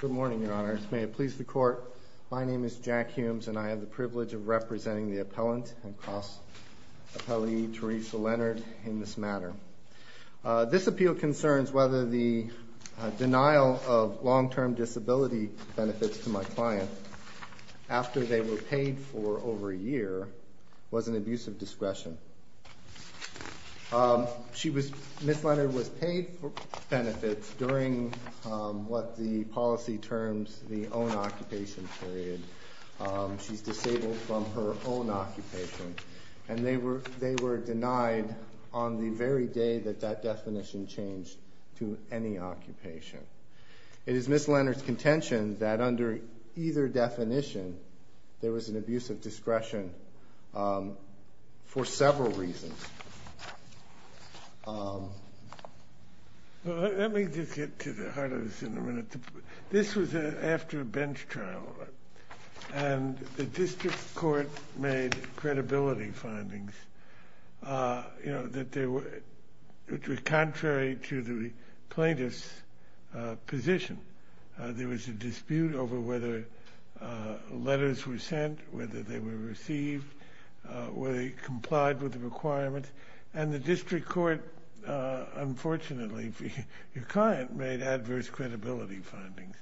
Good morning, Your Honor. May it please the Court, my name is Jack Humes and I have the privilege of representing the appellant and cross-appellee Teresa Leonard in this matter. This appeal concerns whether the denial of long-term disability benefits to my client after they were paid for over a year was an abuse of discretion for several reasons. Let me just get to the heart of this in a minute. This was after a bench trial and the district court made credibility findings, you know, that they were contrary to the plaintiff's position. There was a dispute over whether letters were sent, whether they were received, whether they complied with the requirements, and the district court, unfortunately, your client made adverse credibility findings.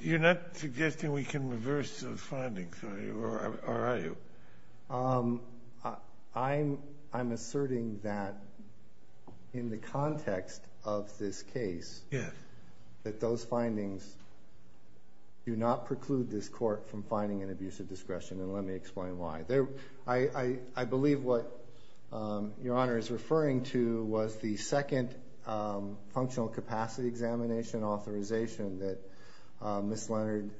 You're not suggesting we can reverse those findings, are you? I'm asserting that in the context of this case that those findings do not preclude this court from finding an abuse of discretion and let me explain why. I believe what your Honor is referring to was the second functional capacity examination authorization that Ms. Leonard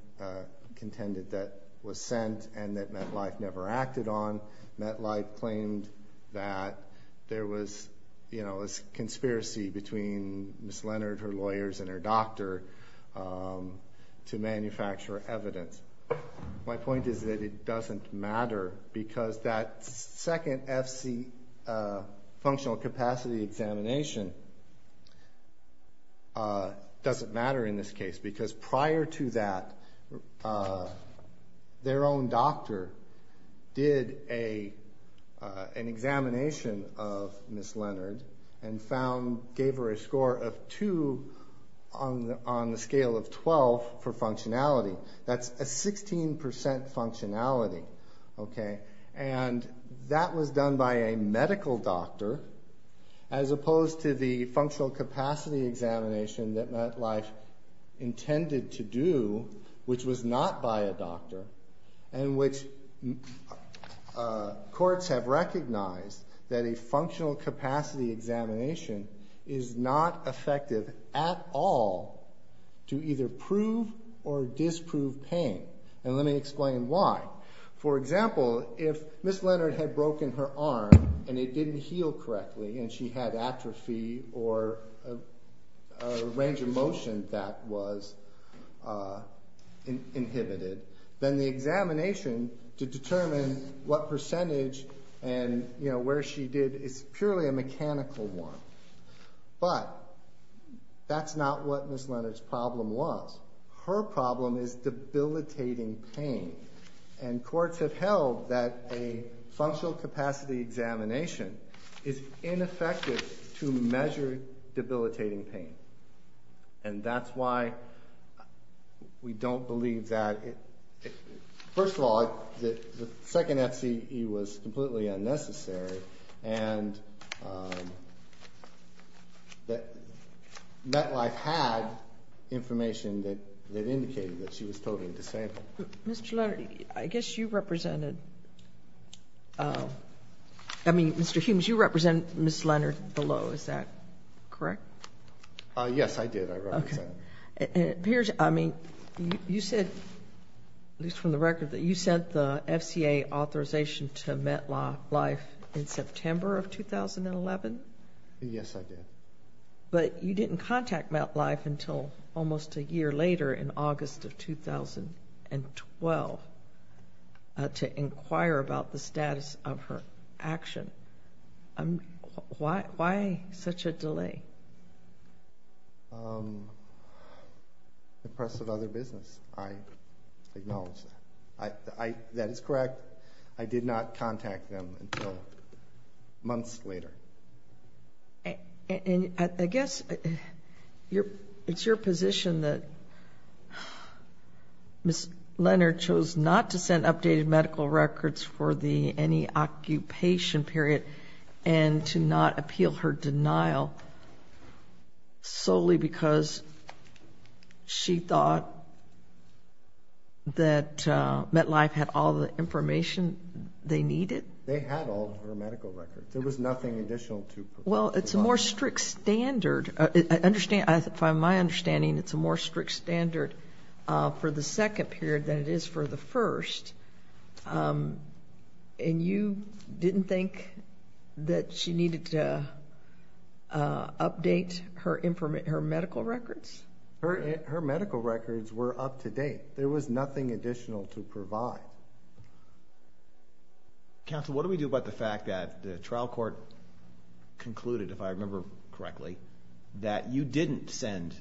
contended that was sent and that MetLife never acted on. MetLife claimed that there was, you know, a conspiracy between Ms. Leonard, her lawyers, and her doctor to manufacture evidence. My point is that it functional capacity examination doesn't matter in this case because prior to that their own doctor did an examination of Ms. Leonard and found, gave her a score of 2 on the scale of 12 for functionality. That's a 16% functionality, okay, and that was done by a medical doctor as opposed to the functional capacity examination that MetLife intended to do, which was not by a doctor, and which courts have recognized that a functional capacity examination is not effective at all to either prove or disprove pain. And let me explain why. For example, if Ms. Leonard had broken her arm and it didn't heal correctly and she had atrophy or a range of motion that was inhibited, then the examination to determine what percentage and, you know, where she did is purely a mechanical one. But that's not what Ms. Leonard's problem was. Her problem is debilitating pain, and courts have held that a functional capacity examination is ineffective to measure debilitating pain, and that's why we don't believe that. First of all, the second FCE was completely unnecessary, and MetLife had information that indicated that she was totally disabled. Mr. Leonard, I guess you represented, I mean, Mr. Humes, you represented Ms. Leonard below, is that correct? Yes, I did, I represented her. I mean, you said, at least from the record, that you sent the FCA authorization to MetLife in September of 2011? Yes, I did. But you didn't contact MetLife until almost a year later in August of 2012 to inquire about the status of her action. Why such a delay? The press of other business, I acknowledge that. That is correct, I did not contact them until months later. And I guess it's your position that Ms. Leonard chose not to send updated medical records for the NE occupation period, and to not appeal her denial solely because she thought that MetLife had all the information they needed? They had all of her medical records. There was nothing additional to provide. Well, it's a more strict standard. I understand, from my understanding, it's a more strict standard for the second period than it is for the first. And you didn't think that she needed to update her medical records? Her medical records were up to date. There was nothing additional to provide. Counsel, what do we do about the fact that the trial court concluded, if I remember correctly, that you didn't send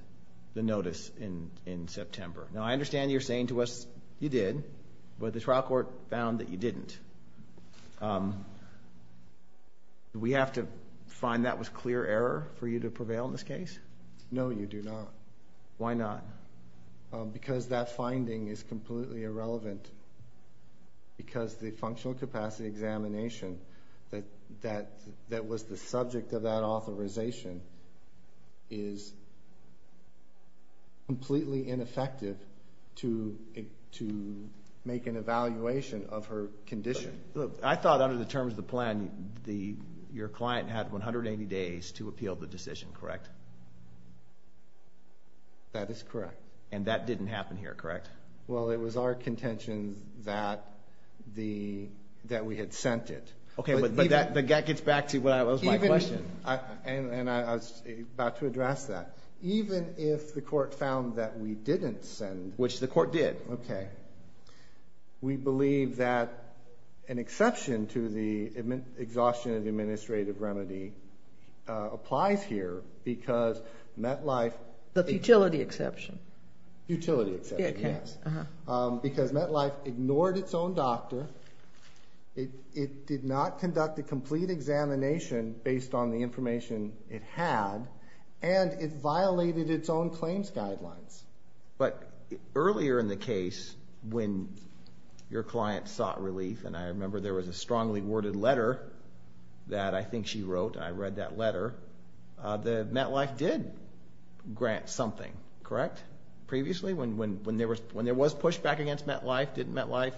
the notice in September? Now, I understand you're saying to us, you did, but the trial court found that you didn't. Do we have to find that was clear error for you to prevail in this case? No, you do not. Why not? Because that finding is completely irrelevant, because the functional capacity examination that was the subject of that authorization is completely ineffective to make an evaluation of her condition. Look, I thought under the terms of the plan, your client had 180 days to appeal the decision, correct? That is correct. And that didn't happen here, correct? Well, it was our contention that we had sent it. Okay, but that gets back to what was my question. And I was about to address that. Even if the court found that we didn't send... Which the court did. Okay. We believe that an exception to the exhaustion of administrative remedy applies here, because MetLife... The futility exception. Futility exception, yes. Because MetLife ignored its own doctor, it did not conduct a complete examination based on the information it had, and it violated its own claims guidelines. But earlier in the case, when your client sought relief, and I remember there was a strongly worded letter that I think she wrote, I read that letter, that MetLife did grant something, correct? Previously, when there was pushback against MetLife, didn't MetLife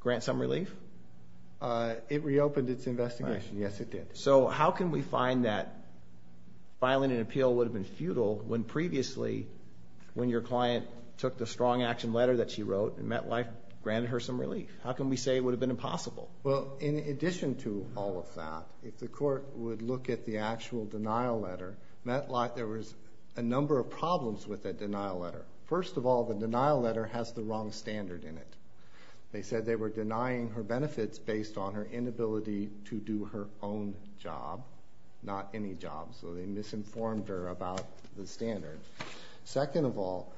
grant some relief? It reopened its investigation, yes, it did. So how can we find that filing an appeal would have been futile when previously, when your client took the strong action letter that she wrote, and MetLife granted her some relief? How can we say it would have been impossible? Well, in addition to all of that, if the court would look at the actual denial letter, MetLife... There was a number of problems with that denial letter. First of all, the denial letter has the wrong standard in it. They said they were denying her benefits based on her inability to do her own job, not any job. So they misinformed her about the standard. Second of all,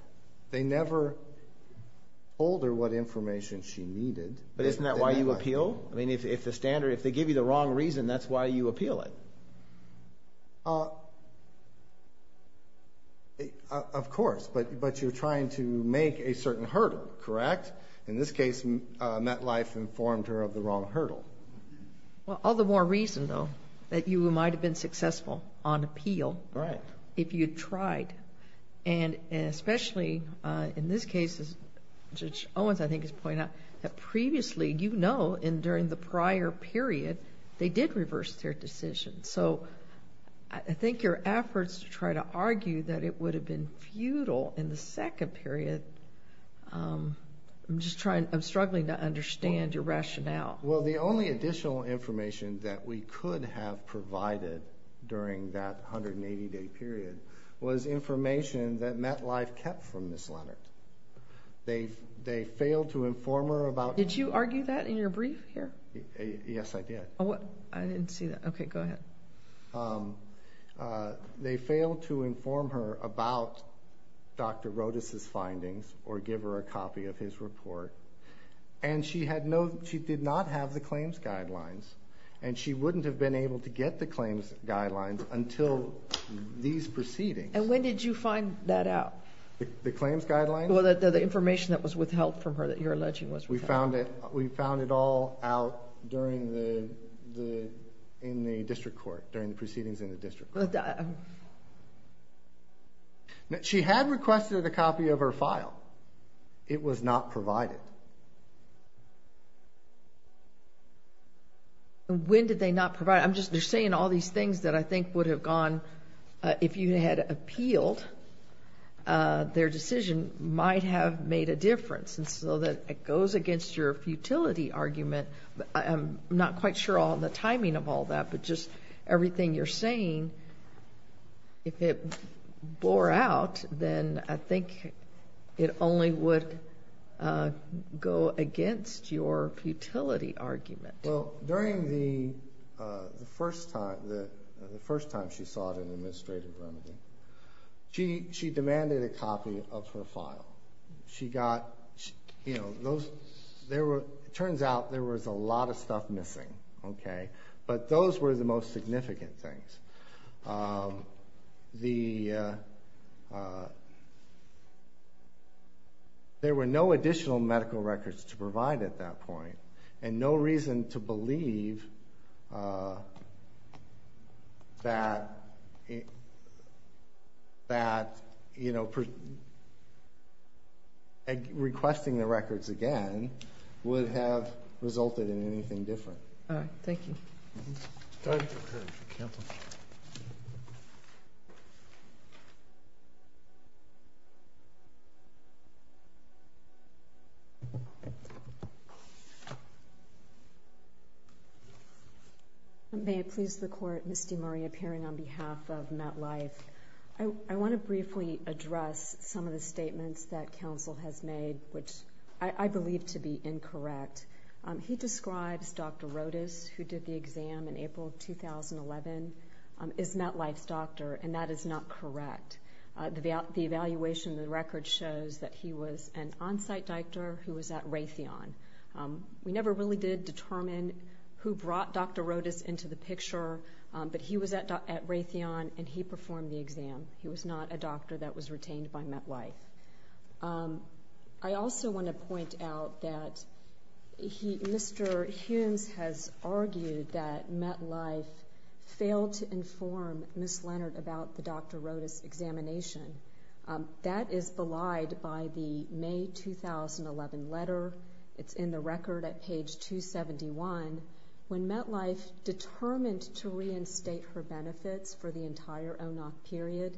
they never told her what information she needed. But isn't that why you appeal? I mean, if the standard, if they give you the wrong reason, that's why you appeal it. Of course, but you're trying to make a certain hurdle, correct? In this case, MetLife informed her of the wrong hurdle. Well, all the more reason, though, that you might have been successful on appeal if you'd tried. And especially in this case, as Judge Owens, I think, has pointed out, that previously, you know, and during the prior period, they did reverse their decision. So I think your efforts to try to argue that it would have been futile in the second period, I'm just trying, I'm struggling to understand your rationale. Well, the only additional information that we could have provided during that 180-day period was information that MetLife kept from Ms. Leonard. They failed to inform her about... Did you argue that in your brief here? Yes, I did. I didn't see that. Okay, go ahead. They failed to inform her about Dr. Rodas' findings, or give her a copy of his report. And she had no, she did not have the claims guidelines. And she wouldn't have been able to get the claims guidelines until these proceedings. And when did you find that out? The claims guidelines? Well, the information that was withheld from her, that you're alleging was withheld. We found it, we found it all out during the, in the district court, during the proceedings in the district court. She had requested a copy of her file. It was not provided. When did they not provide it? I'm just, they're saying all these things that I think would have gone, if you had appealed, their decision might have made a difference. And so that it goes against your futility argument. I'm not quite sure on the timing of all that, but just everything you're saying, if it bore out, then I think it only would go against your futility argument. Well, during the first time, the first time she saw it in the administrative remedy, she demanded a copy of her file. She got, you know, those, there were, it turns out there was a lot of stuff missing. Okay? But those were the most significant things. The, there were no additional medical records to provide at that point. And no reason to believe that, that, you know, requesting the records again would have resulted in anything different. All right, thank you. I'm sorry to interrupt your counsel. May it please the court, Ms. DeMaria, appearing on behalf of MetLife. I want to briefly address some of the statements that counsel has made, which I believe to be incorrect. He describes Dr. Rodas, who did the exam in April of 2011, is MetLife's doctor, and that is not correct. The evaluation of the record shows that he was an on-site doctor who was at Raytheon. We never really did determine who brought Dr. Rodas into the picture, but he was at Raytheon and he performed the exam. He was not a doctor that was retained by MetLife. I also want to point out that he, Mr. Humes has argued that MetLife failed to inform Ms. Leonard about the Dr. Rodas examination. That is belied by the May 2011 letter. It's in the record at page 271. When MetLife determined to reinstate her benefits for the entire ONOC period,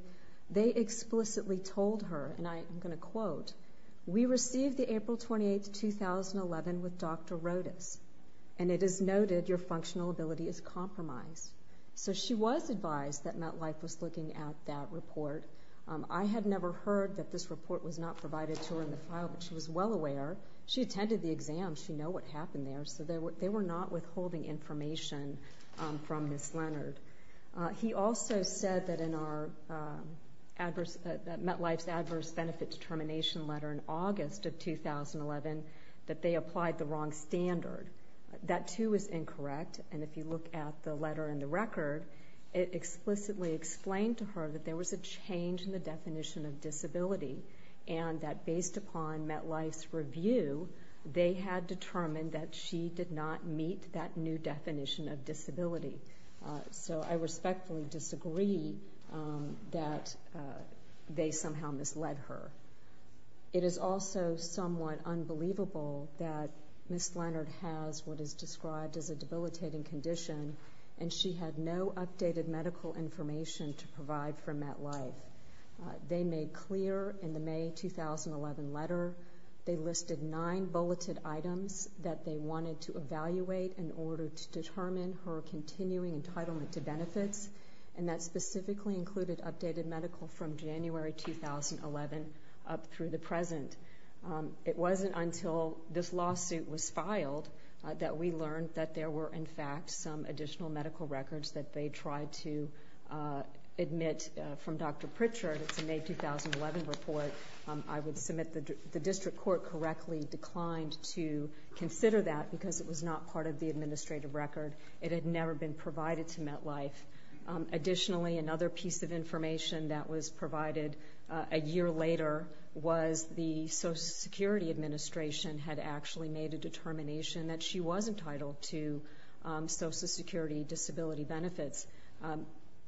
they explicitly told her, and I'm going to quote, we received the April 28th, 2011 with Dr. Rodas. And it is noted your functional ability is compromised. So she was advised that MetLife was looking at that report. I had never heard that this report was not provided to her in the file, but she was well aware. She attended the exam, she know what happened there. So they were not withholding information from Ms. Leonard. He also said that in MetLife's adverse benefit determination letter in August of 2011, that they applied the wrong standard. That too is incorrect, and if you look at the letter in the record, it explicitly explained to her that there was a change in the definition of disability, and that based upon MetLife's review, they had determined that she did not meet that new definition of disability. So I respectfully disagree that they somehow misled her. It is also somewhat unbelievable that Ms. Leonard has what is described as a debilitating condition, and she had no updated medical information to provide for MetLife. They made clear in the May 2011 letter, they listed nine bulleted items that they wanted to evaluate in order to determine her continuing entitlement to benefits, and that specifically included updated medical from January 2011 up through the present. It wasn't until this lawsuit was filed that we learned that there were, in fact, some additional medical records that they tried to admit from Dr. Pritchard, it's a May 2011 report. I would submit the district court correctly declined to consider that because it was not part of the administrative record. It had never been provided to MetLife. Additionally, another piece of information that was provided a year later was the Social Security Administration had actually made a determination that she was entitled to Social Security disability benefits.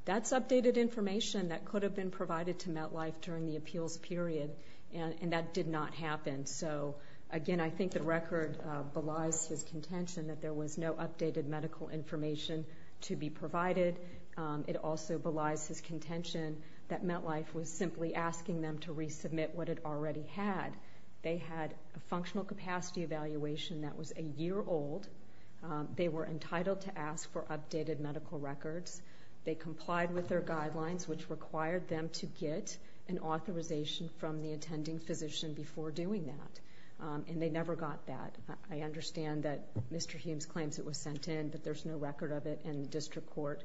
That's updated information that could have been provided to MetLife during the appeals period, and that did not happen. So again, I think the record belies his contention that there was no updated medical information to be provided. It also belies his contention that MetLife was simply asking them to resubmit what it already had. They had a functional capacity evaluation that was a year old. They were entitled to ask for updated medical records. They complied with their guidelines, which required them to get an authorization from the attending physician before doing that. And they never got that. I understand that Mr. Humes claims it was sent in, but there's no record of it. And the district court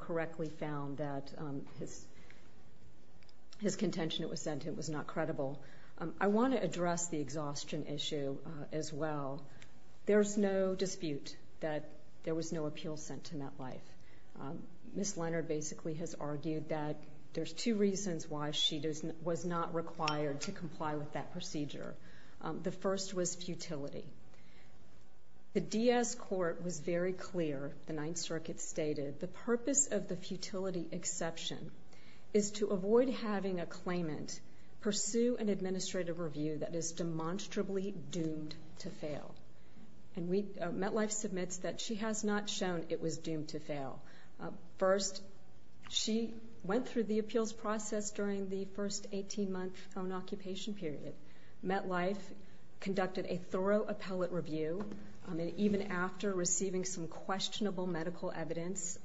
correctly found that his contention it was sent in was not credible. I want to address the exhaustion issue as well. There's no dispute that there was no appeal sent to MetLife. Ms. Leonard basically has argued that there's two reasons why she was not required to comply with that procedure. The first was futility. The DS court was very clear, the Ninth Circuit stated, the purpose of the futility exception is to avoid having a claimant pursue an administrative review that is demonstrably doomed to fail. And MetLife submits that she has not shown it was doomed to fail. First, she went through the appeals process during the first 18 month on occupation period. MetLife conducted a thorough appellate review, and even after receiving some questionable medical evidence,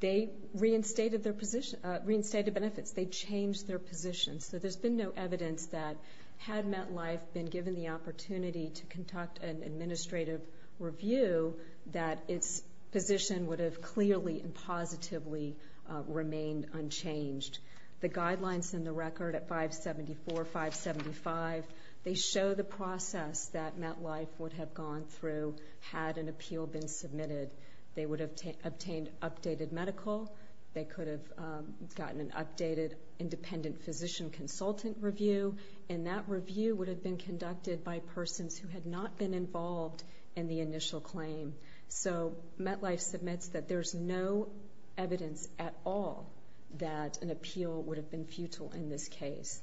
they reinstated benefits, they changed their positions. So there's been no evidence that had MetLife been given the opportunity to conduct an administrative review that its position would have clearly and positively remained unchanged. The guidelines in the record at 574, 575, they show the process that MetLife would have gone through had an appeal been submitted. They would have obtained updated medical. They could have gotten an updated independent physician consultant review. And that review would have been conducted by persons who had not been involved in the initial claim. So MetLife submits that there's no evidence at all that an appeal would have been futile in this case.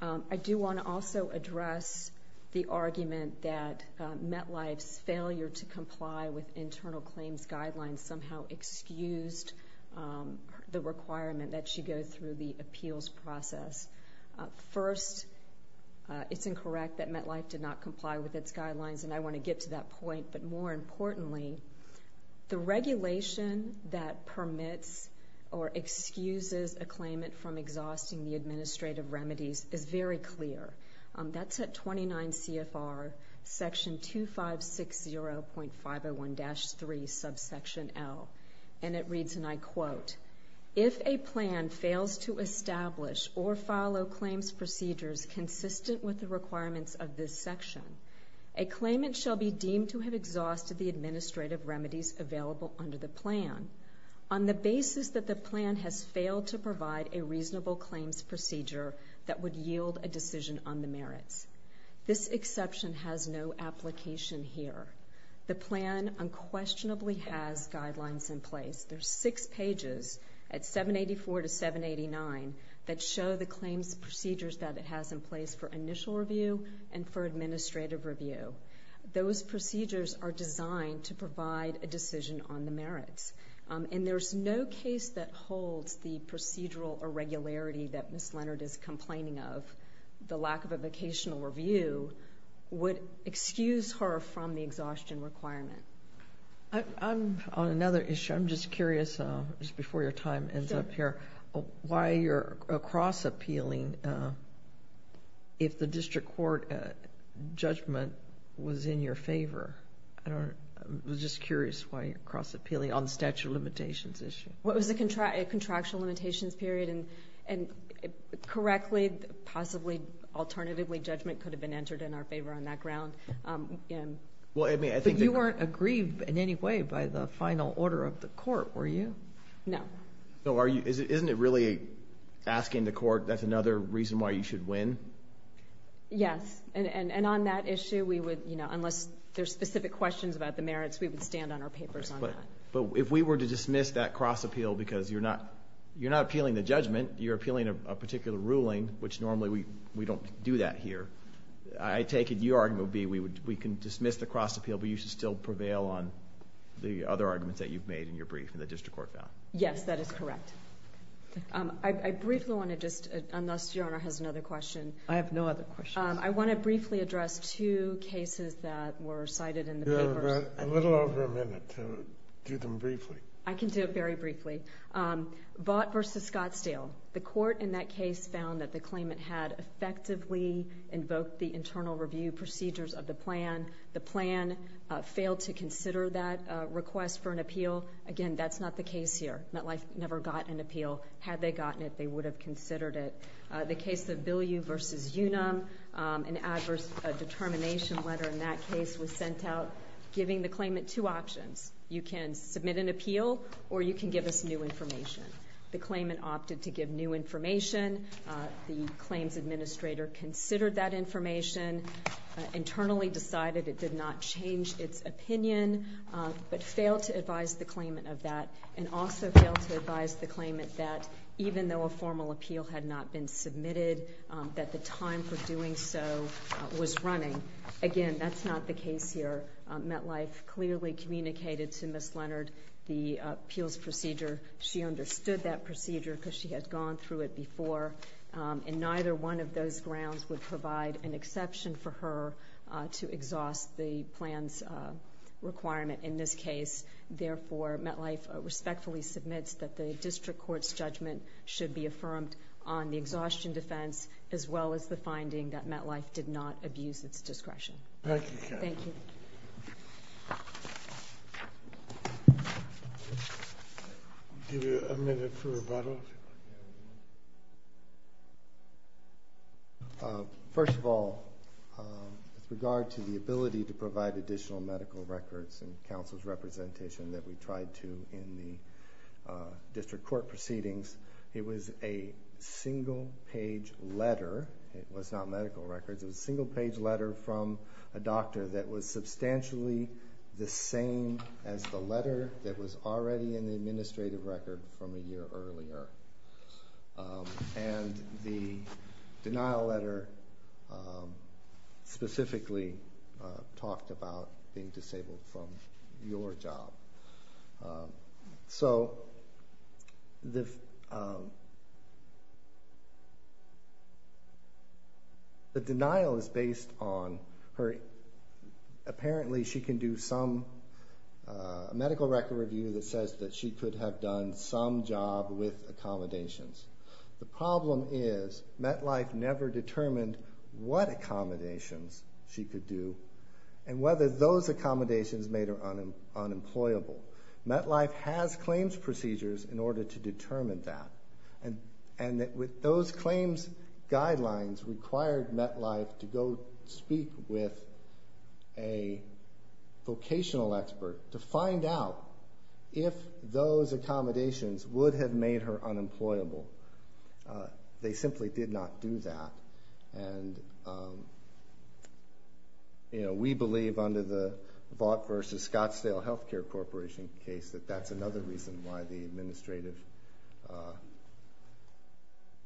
I do wanna also address the argument that MetLife's failure to comply with internal claims guidelines somehow excused the requirement that she go through the appeals process. First, it's incorrect that MetLife did not comply with its guidelines, and I wanna get to that point. But more importantly, the regulation that permits or excuses a claimant from exhausting the administrative remedies is very clear. That's at 29 CFR section 2560.501-3 subsection L. And it reads, and I quote, if a plan fails to establish or follow claims procedures consistent with the requirements of this section, a claimant shall be deemed to have exhausted the administrative remedies available under the plan on the basis that the plan has failed to provide a reasonable claims procedure that would yield a decision on the merits. This exception has no application here. The plan unquestionably has guidelines in place. There's six pages at 784 to 789 that show the claims procedures that it has in place for initial review and for administrative review. Those procedures are designed to provide a decision on the merits. And there's no case that holds the procedural irregularity that Ms. Leonard is complaining of. The lack of a vocational review would excuse her from the exhaustion requirement. I'm on another issue. I'm just curious, just before your time ends up here, why you're cross-appealing if the district court judgment was in your favor. I don't know. I'm just curious why you're cross-appealing on the statute of limitations issue. What was the contractual limitations period? And correctly, possibly, alternatively, judgment could have been entered in our favor on that ground. But you weren't aggrieved in any way by the final order of the court, were you? No. So isn't it really asking the court, that's another reason why you should win? Yes, and on that issue we would, unless there's specific questions about the merits, we would stand on our papers on that. But if we were to dismiss that cross-appeal because you're not appealing the judgment, you're appealing a particular ruling, which normally we don't do that here. I take it your argument would be we can dismiss the cross-appeal, but you should still prevail on the other arguments that you've made in your brief that the district court found. Yes, that is correct. I briefly want to just, unless your honor has another question. I have no other questions. I want to briefly address two cases that were cited in the papers. A little over a minute to do them briefly. I can do it very briefly. Vought versus Scottsdale. The court in that case found that the claimant had effectively invoked the internal review procedures of the plan. The plan failed to consider that request for an appeal. Again, that's not the case here. MetLife never got an appeal. Had they gotten it, they would have considered it. The case of Bilyeu versus Unum, an adverse determination letter in that case was sent out giving the claimant two options. You can submit an appeal or you can give us new information. The claimant opted to give new information. The claims administrator considered that information, internally decided it did not change its opinion, but failed to advise the claimant of that. And also failed to advise the claimant that even though a formal appeal had not been submitted, that the time for doing so was running. Again, that's not the case here. MetLife clearly communicated to Ms. Leonard the appeals procedure. She understood that procedure because she had gone through it before. And neither one of those grounds would provide an exception for her to exhaust the plan's requirement in this case. Therefore, MetLife respectfully submits that the district court's judgment should be affirmed on the exhaustion defense, as well as the finding that it abused its discretion. Thank you. Thank you. Give you a minute for rebuttal. First of all, with regard to the ability to provide additional medical records in counsel's representation that we tried to in the district court proceedings, it was a single page letter. It was not medical records. It was a single page letter from a doctor that was substantially the same as the letter that was already in the administrative record from a year earlier. And the denial letter specifically talked about being disabled from your job. So the denial is based on her, apparently she can do some medical record review that says that she could have done some job with accommodations. The problem is, MetLife never determined what accommodations she could do, and whether those accommodations made her unemployable. MetLife has claims procedures in order to determine that. And that with those claims guidelines required MetLife to go speak with a vocational expert to find out if those accommodations would have made her unemployable. They simply did not do that. And we believe under the Vaught versus Scottsdale Healthcare Corporation case that that's another reason why the administrative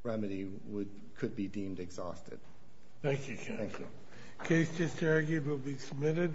remedy could be deemed exhausted. Thank you, counsel. Thank you. Case just argued will be submitted.